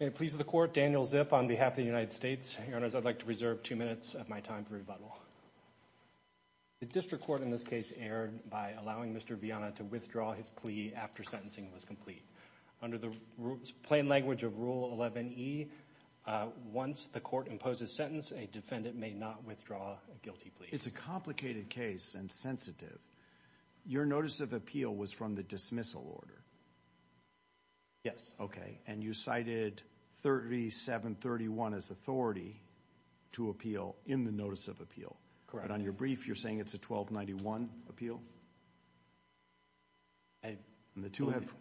May it please the Court, Daniel Zip on behalf of the United States. Your Honors, I'd like to reserve two minutes of my time for rebuttal. The District Court in this case erred by allowing Mr. Viana to withdraw his plea after sentencing was complete. Under the plain language of Rule 11e, once the Court imposes sentence, a defendant may not withdraw a guilty plea. It's a complicated case and sensitive. Your notice of appeal was from the dismissal order. Yes. Okay. And you cited 3731 as authority to appeal in the notice of appeal. Correct. But on your brief, you're saying it's a 1291 appeal? I believe that's – And the two have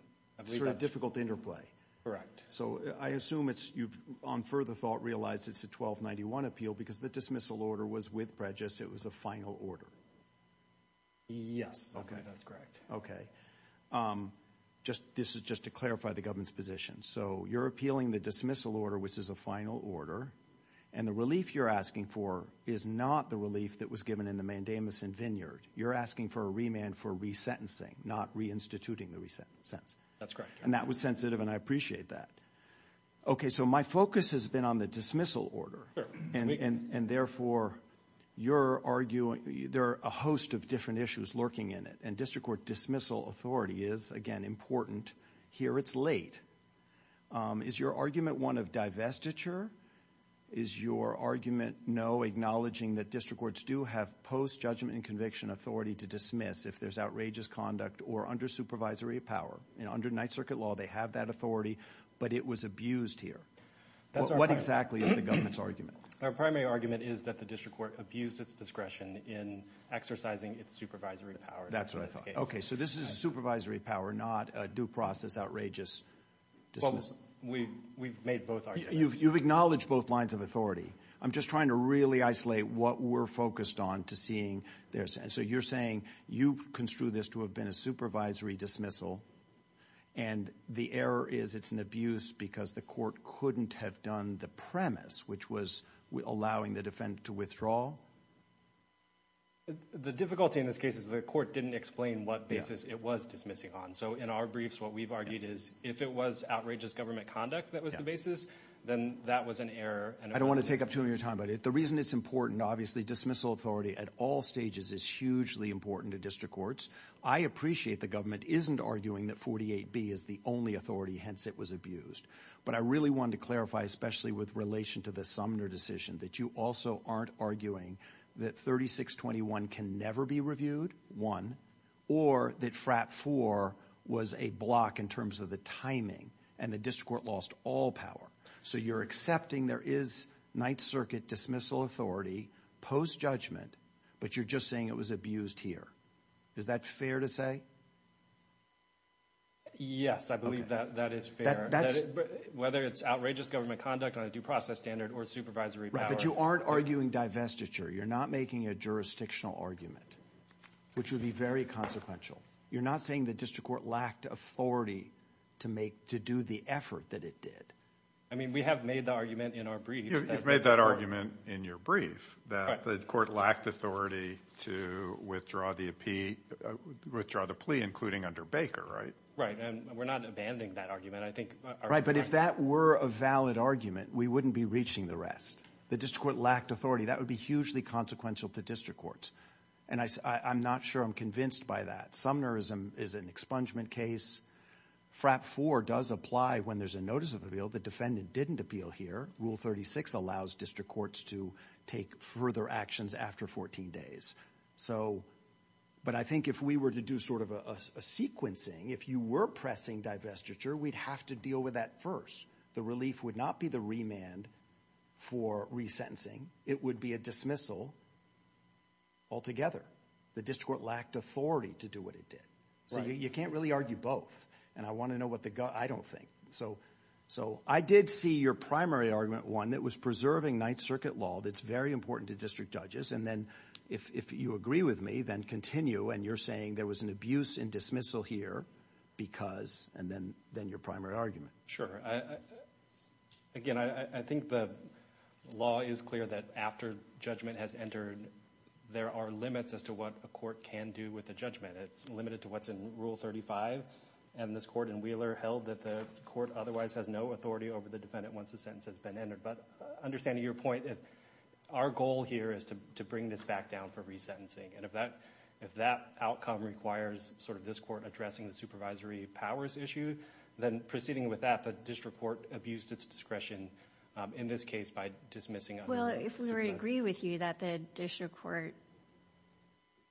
sort of difficult interplay. Correct. So I assume it's – you've on further thought realized it's a 1291 appeal because the dismissal order was with prejudice. It was a final order. Yes. Okay. That's correct. Okay. This is just to clarify the government's position. So you're appealing the dismissal order, which is a final order, and the relief you're asking for is not the relief that was given in the Mandamus and Vineyard. You're asking for a remand for resentencing, not reinstituting the sentence. That's correct. And that was sensitive, and I appreciate that. Okay, so my focus has been on the dismissal order. Sure. And therefore, you're arguing – there are a host of different issues lurking in it, and district court dismissal authority is, again, important. Here it's late. Is your argument one of divestiture? Is your argument, no, acknowledging that district courts do have post-judgment and conviction authority to dismiss if there's outrageous conduct or under supervisory power? Under Ninth Circuit law, they have that authority, but it was abused here. What exactly is the government's argument? Our primary argument is that the district court abused its discretion in exercising its supervisory power in this case. That's what I thought. Okay, so this is a supervisory power, not a due process, outrageous dismissal. Well, we've made both arguments. You've acknowledged both lines of authority. I'm just trying to really isolate what we're focused on to seeing. So you're saying you construed this to have been a supervisory dismissal, and the error is it's an abuse because the court couldn't have done the premise, which was allowing the defendant to withdraw? The difficulty in this case is the court didn't explain what basis it was dismissing on. So in our briefs, what we've argued is if it was outrageous government conduct that was the basis, then that was an error. I don't want to take up too much of your time. But the reason it's important, obviously, dismissal authority at all stages is hugely important to district courts. I appreciate the government isn't arguing that 48B is the only authority, hence it was abused. But I really wanted to clarify, especially with relation to the Sumner decision, that you also aren't arguing that 3621 can never be reviewed, one, or that FRAP 4 was a block in terms of the timing and the district court lost all power. So you're accepting there is Ninth Circuit dismissal authority post-judgment, but you're just saying it was abused here. Is that fair to say? Yes, I believe that is fair. Whether it's outrageous government conduct on a due process standard or supervisory power. Right, but you aren't arguing divestiture. You're not making a jurisdictional argument, which would be very consequential. You're not saying the district court lacked authority to do the effort that it did. I mean, we have made the argument in our briefs. You've made that argument in your brief, that the court lacked authority to withdraw the plea, including under Baker, right? Right, and we're not abandoning that argument. Right, but if that were a valid argument, we wouldn't be reaching the rest. The district court lacked authority. That would be hugely consequential to district courts. And I'm not sure I'm convinced by that. Sumnerism is an expungement case. FRAP 4 does apply when there's a notice of appeal. The defendant didn't appeal here. Rule 36 allows district courts to take further actions after 14 days. But I think if we were to do sort of a sequencing, if you were pressing divestiture, we'd have to deal with that first. The relief would not be the remand for resentencing. It would be a dismissal altogether. The district court lacked authority to do what it did. So you can't really argue both. And I want to know what the – I don't think. So I did see your primary argument, one, that was preserving Ninth Circuit law. That's very important to district judges. And then if you agree with me, then continue. And you're saying there was an abuse and dismissal here because – and then your primary argument. Sure. Again, I think the law is clear that after judgment has entered, there are limits as to what a court can do with a judgment. It's limited to what's in Rule 35. And this court in Wheeler held that the court otherwise has no authority over the defendant once the sentence has been entered. But understanding your point, our goal here is to bring this back down for resentencing. And if that outcome requires sort of this court addressing the supervisory powers issue, then proceeding with that, the district court abused its discretion in this case by dismissing – Well, if we were to agree with you that the district court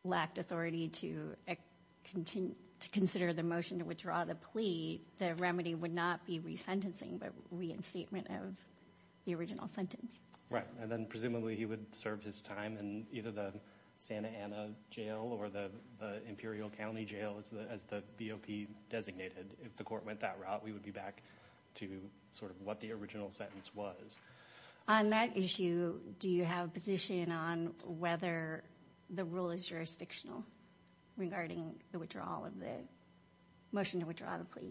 lacked authority to consider the motion to withdraw the plea, the remedy would not be resentencing but reinstatement of the original sentence. Right. And then presumably he would serve his time in either the Santa Ana Jail or the Imperial County Jail as the BOP designated. If the court went that route, we would be back to sort of what the original sentence was. On that issue, do you have a position on whether the rule is jurisdictional regarding the withdrawal of the – motion to withdraw the plea?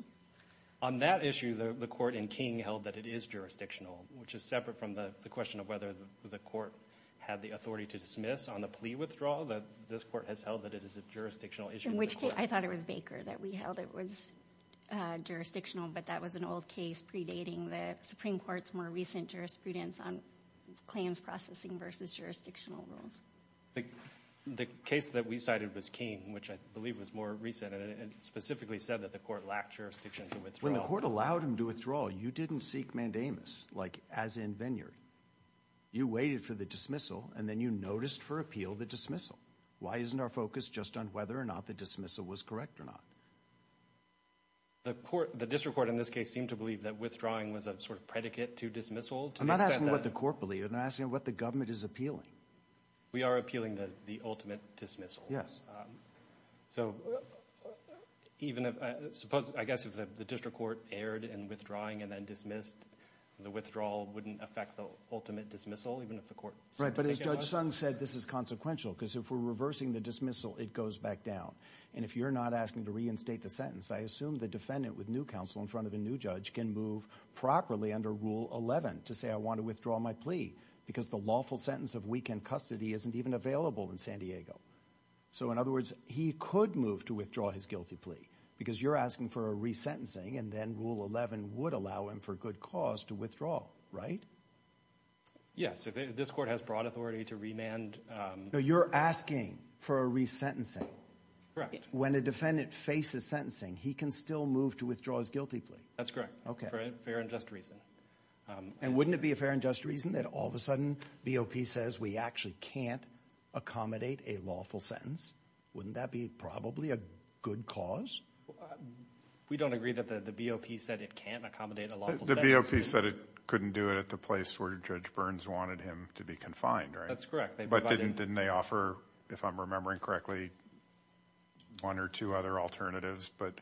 On that issue, the court in King held that it is jurisdictional, which is separate from the question of whether the court had the authority to dismiss on the plea withdrawal. This court has held that it is a jurisdictional issue. In which case – I thought it was Baker that we held it was jurisdictional, but that was an old case predating the Supreme Court's more recent jurisprudence on claims processing versus jurisdictional rules. The case that we cited was King, which I believe was more recent. And it specifically said that the court lacked jurisdiction to withdraw. When the court allowed him to withdraw, you didn't seek mandamus, like as in Venuary. You waited for the dismissal, and then you noticed for appeal the dismissal. Why isn't our focus just on whether or not the dismissal was correct or not? The court – the district court in this case seemed to believe that withdrawing was a sort of predicate to dismissal. I'm not asking what the court believed. I'm asking what the government is appealing. We are appealing the ultimate dismissal. Yes. So even if – I guess if the district court erred in withdrawing and then dismissed, the withdrawal wouldn't affect the ultimate dismissal even if the court – Right, but as Judge Sung said, this is consequential because if we're reversing the dismissal, it goes back down. And if you're not asking to reinstate the sentence, I assume the defendant with new counsel in front of a new judge can move properly under Rule 11 to say I want to withdraw my plea because the lawful sentence of weekend custody isn't even available in San Diego. So in other words, he could move to withdraw his guilty plea because you're asking for a resentencing and then Rule 11 would allow him for good cause to withdraw, right? Yes. This court has broad authority to remand – No, you're asking for a resentencing. Correct. When a defendant faces sentencing, he can still move to withdraw his guilty plea. That's correct. Okay. For a fair and just reason. And wouldn't it be a fair and just reason that all of a sudden BOP says we actually can't accommodate a lawful sentence? Wouldn't that be probably a good cause? We don't agree that the BOP said it can't accommodate a lawful sentence. The BOP said it couldn't do it at the place where Judge Burns wanted him to be confined, right? That's correct. But didn't they offer, if I'm remembering correctly, one or two other alternatives but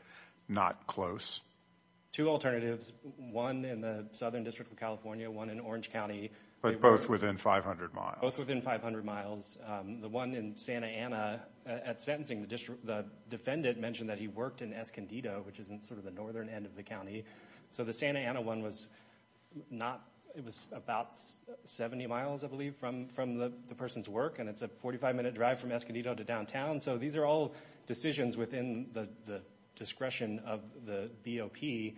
not close? Two alternatives, one in the Southern District of California, one in Orange County. But both within 500 miles. Both within 500 miles. The one in Santa Ana at sentencing, the defendant mentioned that he worked in Escondido, which is in sort of the northern end of the county. So the Santa Ana one was about 70 miles, I believe, from the person's work, and it's a 45-minute drive from Escondido to downtown. So these are all decisions within the discretion of the BOP,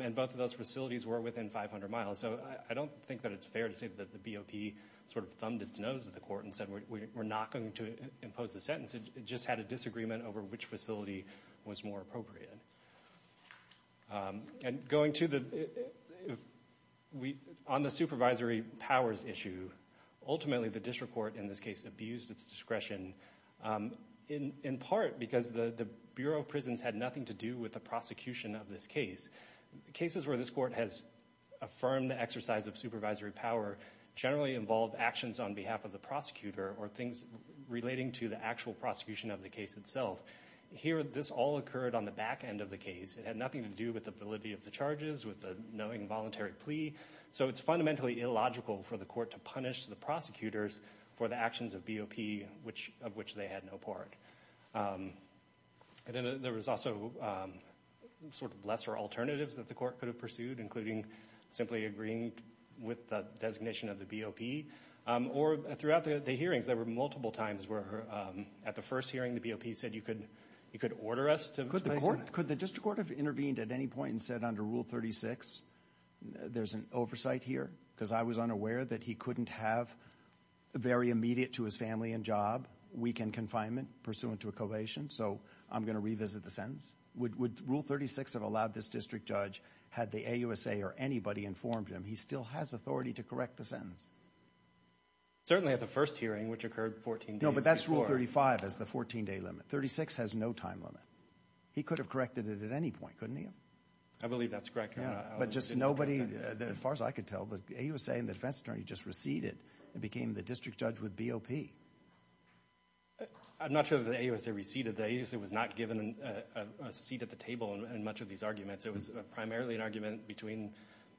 and both of those facilities were within 500 miles. So I don't think that it's fair to say that the BOP sort of thumbed its nose at the court and said we're not going to impose the sentence. It just had a disagreement over which facility was more appropriate. And going to the ‑‑ on the supervisory powers issue, ultimately the district court in this case abused its discretion in part because the Bureau of Prisons had nothing to do with the prosecution of this case. Cases where this court has affirmed the exercise of supervisory power generally involve actions on behalf of the prosecutor or things relating to the actual prosecution of the case itself. Here, this all occurred on the back end of the case. It had nothing to do with the validity of the charges, with the knowing voluntary plea. So it's fundamentally illogical for the court to punish the prosecutors for the actions of BOP of which they had no part. There was also sort of lesser alternatives that the court could have pursued, including simply agreeing with the designation of the BOP. Or throughout the hearings, there were multiple times where at the first hearing the BOP said you could order us to ‑‑ Could the district court have intervened at any point and said under Rule 36 there's an oversight here? Because I was unaware that he couldn't have very immediate to his family and job weekend confinement pursuant to a covation, so I'm going to revisit the sentence. Would Rule 36 have allowed this district judge, had the AUSA or anybody informed him, he still has authority to correct the sentence? Certainly at the first hearing, which occurred 14 days before. But that's Rule 35, is the 14‑day limit. 36 has no time limit. He could have corrected it at any point, couldn't he have? I believe that's correct, Your Honor. But just nobody, as far as I could tell, the AUSA and the defense attorney just receded and became the district judge with BOP. I'm not sure that the AUSA receded. The AUSA was not given a seat at the table in much of these arguments. It was primarily an argument between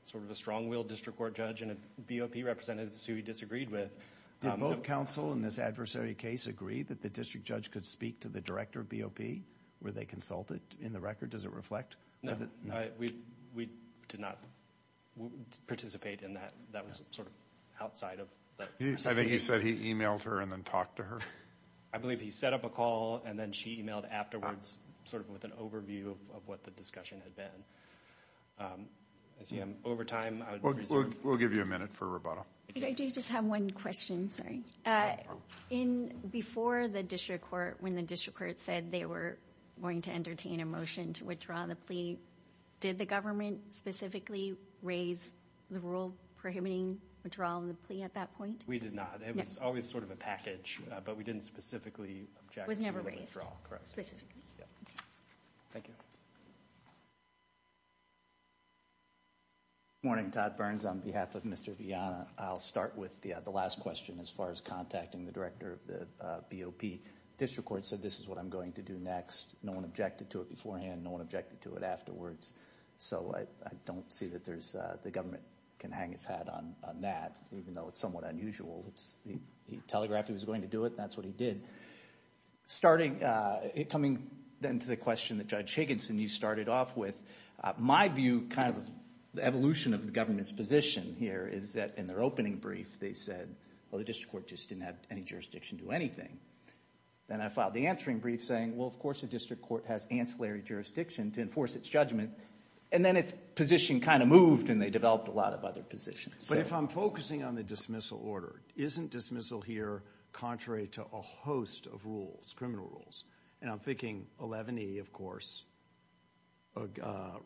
sort of a strong‑willed district court judge and a BOP representative who he disagreed with. Did both counsel in this adversary case agree that the district judge could speak to the director of BOP? Were they consulted in the record? Does it reflect? We did not participate in that. That was sort of outside of the situation. I think he said he emailed her and then talked to her. I believe he set up a call and then she emailed afterwards sort of with an overview of what the discussion had been. I see I'm over time. We'll give you a minute for rebuttal. I do just have one question. Before the district court, when the district court said they were going to entertain a motion to withdraw the plea, did the government specifically raise the rule prohibiting withdrawal of the plea at that point? We did not. It was always sort of a package, but we didn't specifically object to the withdrawal. Was never raised. Correct. Thank you. Good morning. Todd Burns on behalf of Mr. Vianna. I'll start with the last question as far as contacting the director of the BOP. The district court said this is what I'm going to do next. No one objected to it beforehand. No one objected to it afterwards. So I don't see that the government can hang its hat on that, even though it's somewhat unusual. He telegraphed he was going to do it, and that's what he did. Coming then to the question that Judge Higginson, you started off with, my view, kind of the evolution of the government's position here is that in their opening brief, they said, oh, the district court just didn't have any jurisdiction to do anything. Then I filed the answering brief saying, well, of course the district court has ancillary jurisdiction to enforce its judgment. And then its position kind of moved, and they developed a lot of other positions. But if I'm focusing on the dismissal order, isn't dismissal here contrary to a host of rules, criminal rules? And I'm thinking 11E, of course,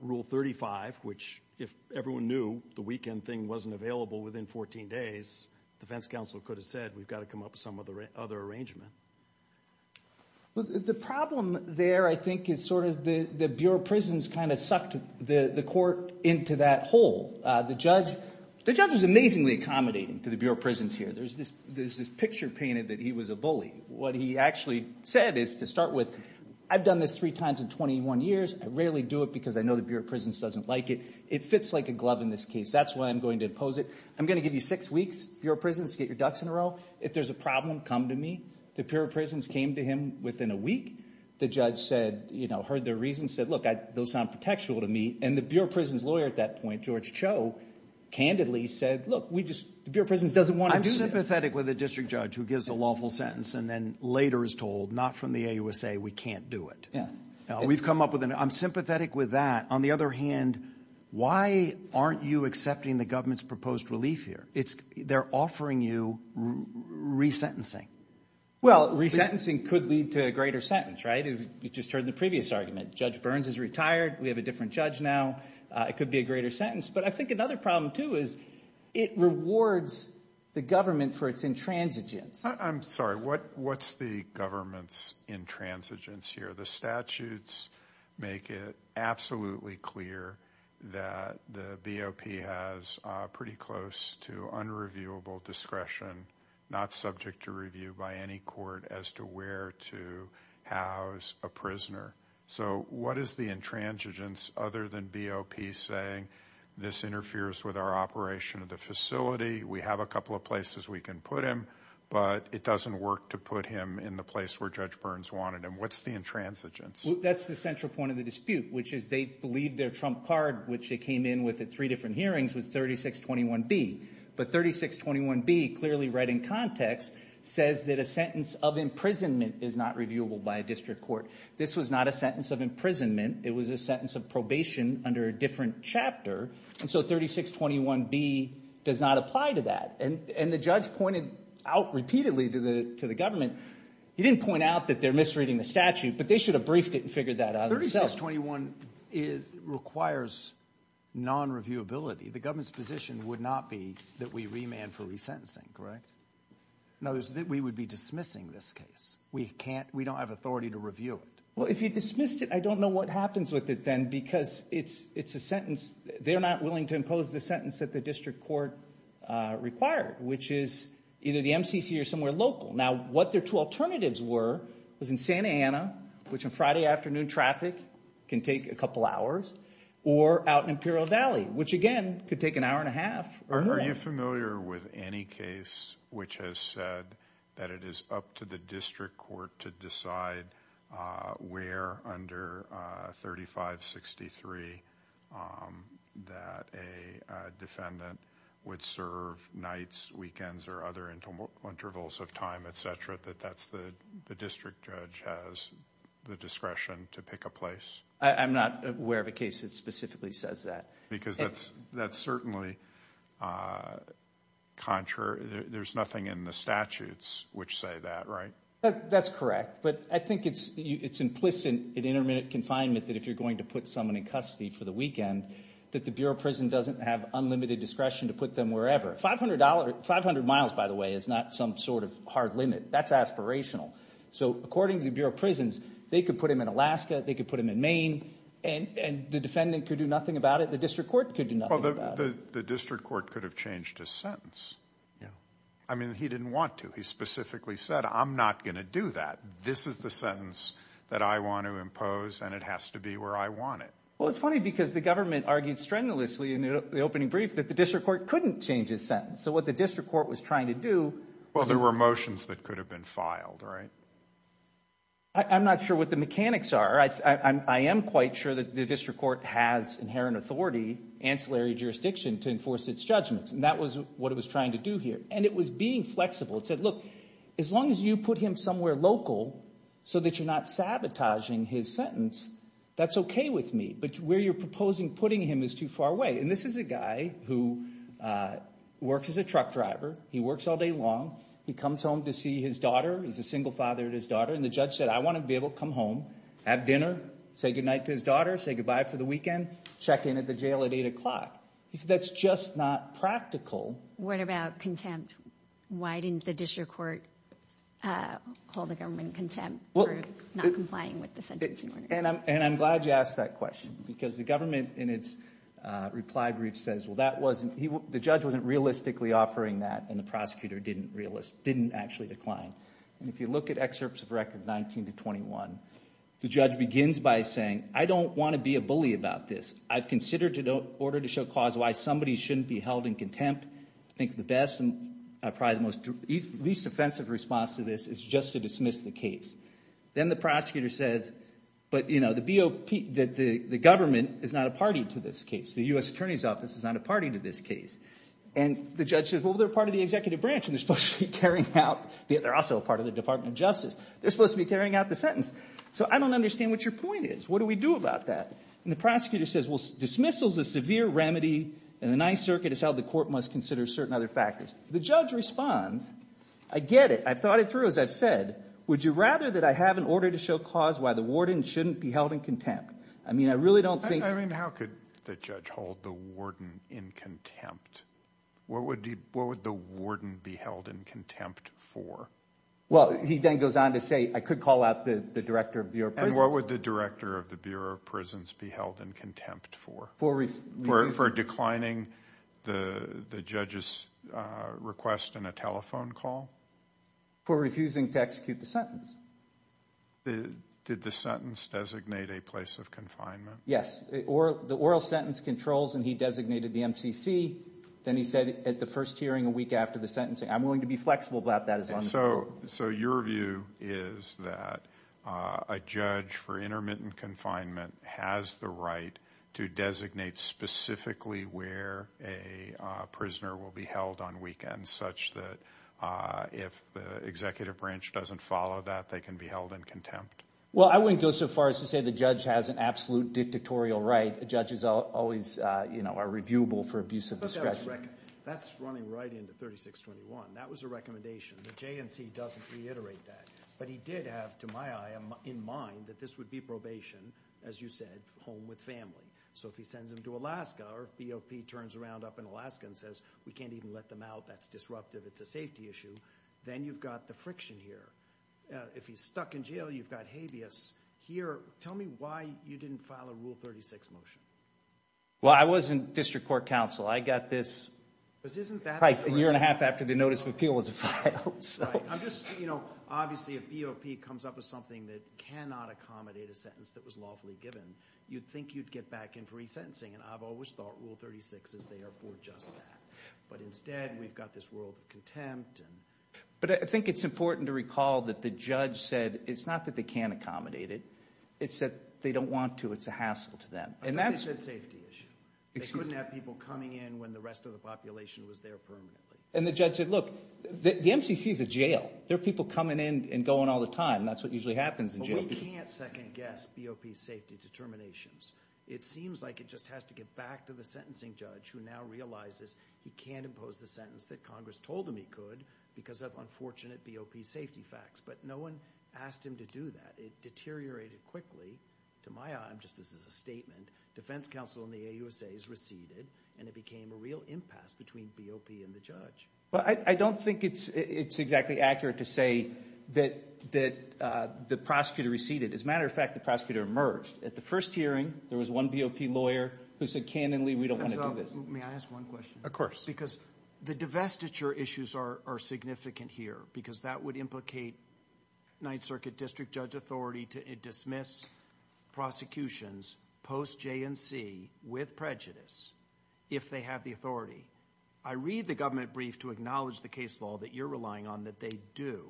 Rule 35, which if everyone knew the weekend thing wasn't available within 14 days, the defense counsel could have said we've got to come up with some other arrangement. The problem there, I think, is sort of the Bureau of Prisons kind of sucked the court into that hole. The judge was amazingly accommodating to the Bureau of Prisons here. There's this picture painted that he was a bully. What he actually said is to start with, I've done this three times in 21 years. I rarely do it because I know the Bureau of Prisons doesn't like it. It fits like a glove in this case. That's why I'm going to impose it. I'm going to give you six weeks, Bureau of Prisons, to get your ducks in a row. If there's a problem, come to me. The Bureau of Prisons came to him within a week. The judge said, you know, heard their reasons, said, look, those sound protectual to me. And the Bureau of Prisons lawyer at that point, George Cho, candidly said, look, we just the Bureau of Prisons doesn't want incidents. I'm sympathetic with a district judge who gives a lawful sentence and then later is told, not from the AUSA, we can't do it. We've come up with an – I'm sympathetic with that. On the other hand, why aren't you accepting the government's proposed relief here? They're offering you resentencing. Well, resentencing could lead to a greater sentence, right? You just heard the previous argument. Judge Burns is retired. We have a different judge now. It could be a greater sentence. But I think another problem, too, is it rewards the government for its intransigence. I'm sorry. What's the government's intransigence here? The statutes make it absolutely clear that the BOP has pretty close to unreviewable discretion, not subject to review by any court as to where to house a prisoner. So what is the intransigence other than BOP saying this interferes with our operation of the facility? We have a couple of places we can put him, but it doesn't work to put him in the place where Judge Burns wanted him. What's the intransigence? That's the central point of the dispute, which is they believe their trump card, which they came in with at three different hearings, was 3621B. But 3621B, clearly read in context, says that a sentence of imprisonment is not reviewable by a district court. This was not a sentence of imprisonment. It was a sentence of probation under a different chapter. And so 3621B does not apply to that. And the judge pointed out repeatedly to the government, he didn't point out that they're misreading the statute, but they should have briefed it and figured that out themselves. 3621 requires non-reviewability. The government's position would not be that we remand for resentencing, correct? No, we would be dismissing this case. We don't have authority to review it. Well, if you dismissed it, I don't know what happens with it then because it's a sentence. They're not willing to impose the sentence that the district court required, which is either the MCC or somewhere local. Now, what their two alternatives were was in Santa Ana, which on Friday afternoon traffic can take a couple hours, or out in Imperial Valley, which, again, could take an hour and a half or more. Are you familiar with any case which has said that it is up to the district court to decide where under 3563 that a defendant would serve nights, weekends, or other intervals of time, et cetera, that that's the district judge has the discretion to pick a place? I'm not aware of a case that specifically says that. Because that's certainly contrary. There's nothing in the statutes which say that, right? That's correct. But I think it's implicit in intermittent confinement that if you're going to put someone in custody for the weekend, that the Bureau of Prison doesn't have unlimited discretion to put them wherever. 500 miles, by the way, is not some sort of hard limit. That's aspirational. So according to the Bureau of Prisons, they could put them in Alaska, they could put them in Maine, and the defendant could do nothing about it, the district court could do nothing about it. Well, the district court could have changed his sentence. I mean, he didn't want to. He specifically said, I'm not going to do that. This is the sentence that I want to impose, and it has to be where I want it. Well, it's funny because the government argued strenuously in the opening brief that the district court couldn't change his sentence. So what the district court was trying to do was – Well, there were motions that could have been filed, right? I'm not sure what the mechanics are. I am quite sure that the district court has inherent authority, ancillary jurisdiction, to enforce its judgments. And that was what it was trying to do here. And it was being flexible. It said, look, as long as you put him somewhere local so that you're not sabotaging his sentence, that's okay with me. But where you're proposing putting him is too far away. And this is a guy who works as a truck driver. He works all day long. He comes home to see his daughter. He's a single father to his daughter. And the judge said, I want him to be able to come home, have dinner, say goodnight to his daughter, say goodbye for the weekend, check in at the jail at 8 o'clock. He said, that's just not practical. What about contempt? Why didn't the district court hold the government in contempt for not complying with the sentencing order? And I'm glad you asked that question because the government in its reply brief says, well, that wasn't – the judge wasn't realistically offering that, and the prosecutor didn't actually decline. And if you look at excerpts of record 19 to 21, the judge begins by saying, I don't want to be a bully about this. I've considered an order to show cause why somebody shouldn't be held in contempt. I think the best and probably the least offensive response to this is just to dismiss the case. Then the prosecutor says, but, you know, the GOP, the government is not a party to this case. The U.S. Attorney's Office is not a party to this case. And the judge says, well, they're part of the executive branch, and they're supposed to be carrying out – they're also a part of the Department of Justice. They're supposed to be carrying out the sentence. So I don't understand what your point is. What do we do about that? And the prosecutor says, well, dismissal is a severe remedy in the Ninth Circuit. It's how the court must consider certain other factors. The judge responds. I get it. I've thought it through, as I've said. Would you rather that I have an order to show cause why the warden shouldn't be held in contempt? I mean I really don't think – I mean how could the judge hold the warden in contempt? What would the warden be held in contempt for? Well, he then goes on to say I could call out the director of the Bureau of Prisons. And what would the director of the Bureau of Prisons be held in contempt for? For declining the judge's request in a telephone call? For refusing to execute the sentence. Did the sentence designate a place of confinement? Yes. The oral sentence controls and he designated the MCC. Then he said at the first hearing a week after the sentencing. I'm willing to be flexible about that as long as it's true. So your view is that a judge for intermittent confinement has the right to designate specifically where a prisoner will be held on weekends such that if the executive branch doesn't follow that, they can be held in contempt. Well, I wouldn't go so far as to say the judge has an absolute dictatorial right. Judges always are reviewable for abuse of discretion. That's running right into 3621. That was a recommendation. The JNC doesn't reiterate that. But he did have, to my eye, in mind, that this would be probation, as you said, home with family. So if he sends him to Alaska or BOP turns around up in Alaska and says we can't even let them out, that's disruptive. It's a safety issue. Then you've got the friction here. If he's stuck in jail, you've got habeas here. Tell me why you didn't file a Rule 36 motion. Well, I was in district court counsel. I got this pipe a year and a half after the notice of appeal was filed. Obviously, if BOP comes up with something that cannot accommodate a sentence that was lawfully given, you'd think you'd get back in for resentencing, and I've always thought Rule 36 is there for just that. But instead, we've got this world of contempt. But I think it's important to recall that the judge said it's not that they can't accommodate it. It's that they don't want to. It's a hassle to them. But they said safety issue. They couldn't have people coming in when the rest of the population was there permanently. And the judge said, look, the MCC is a jail. There are people coming in and going all the time. That's what usually happens in jail. But we can't second-guess BOP safety determinations. It seems like it just has to get back to the sentencing judge who now realizes he can't impose the sentence that Congress told him he could because of unfortunate BOP safety facts. But no one asked him to do that. It deteriorated quickly. To my eye, just as a statement, defense counsel in the AUSA is receded, and it became a real impasse between BOP and the judge. Well, I don't think it's exactly accurate to say that the prosecutor receded. As a matter of fact, the prosecutor emerged. At the first hearing, there was one BOP lawyer who said, canonally, we don't want to do this. May I ask one question? Of course. Because the divestiture issues are significant here because that would implicate Ninth Circuit district judge authority to dismiss prosecutions post J&C with prejudice if they have the authority. I read the government brief to acknowledge the case law that you're relying on that they do,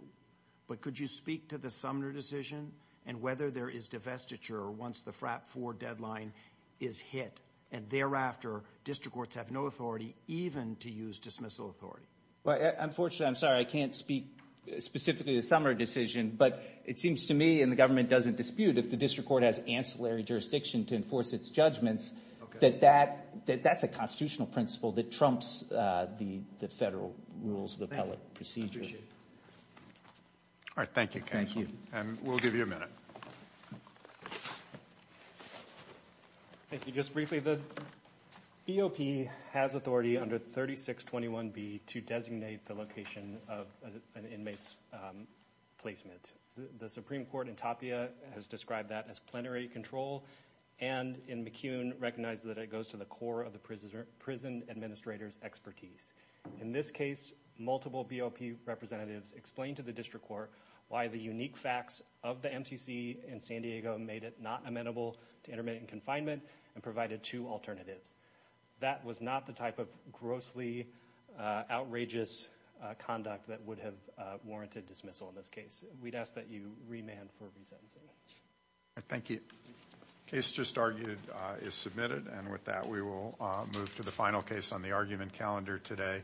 but could you speak to the Sumner decision and whether there is divestiture once the FRAP 4 deadline is hit, and thereafter district courts have no authority even to use dismissal authority? Unfortunately, I'm sorry, I can't speak specifically to the Sumner decision, but it seems to me, and the government doesn't dispute, if the district court has ancillary jurisdiction to enforce its judgments, that that's a constitutional principle that trumps the federal rules of the appellate procedure. Thank you. I appreciate it. All right, thank you, counsel. Thank you. And we'll give you a minute. Thank you. Just briefly, the BOP has authority under 3621B to designate the location of an inmate's placement. The Supreme Court in Tapia has described that as plenary control, and in McCune recognizes that it goes to the core of the prison administrator's expertise. In this case, multiple BOP representatives explained to the district court why the unique facts of the MCC in San Diego made it not amenable to intermittent confinement and provided two alternatives. That was not the type of grossly outrageous conduct that would have warranted dismissal in this case. We'd ask that you remand for resentencing. Thank you. The case just argued is submitted, and with that we will move to the final case on the argument calendar today.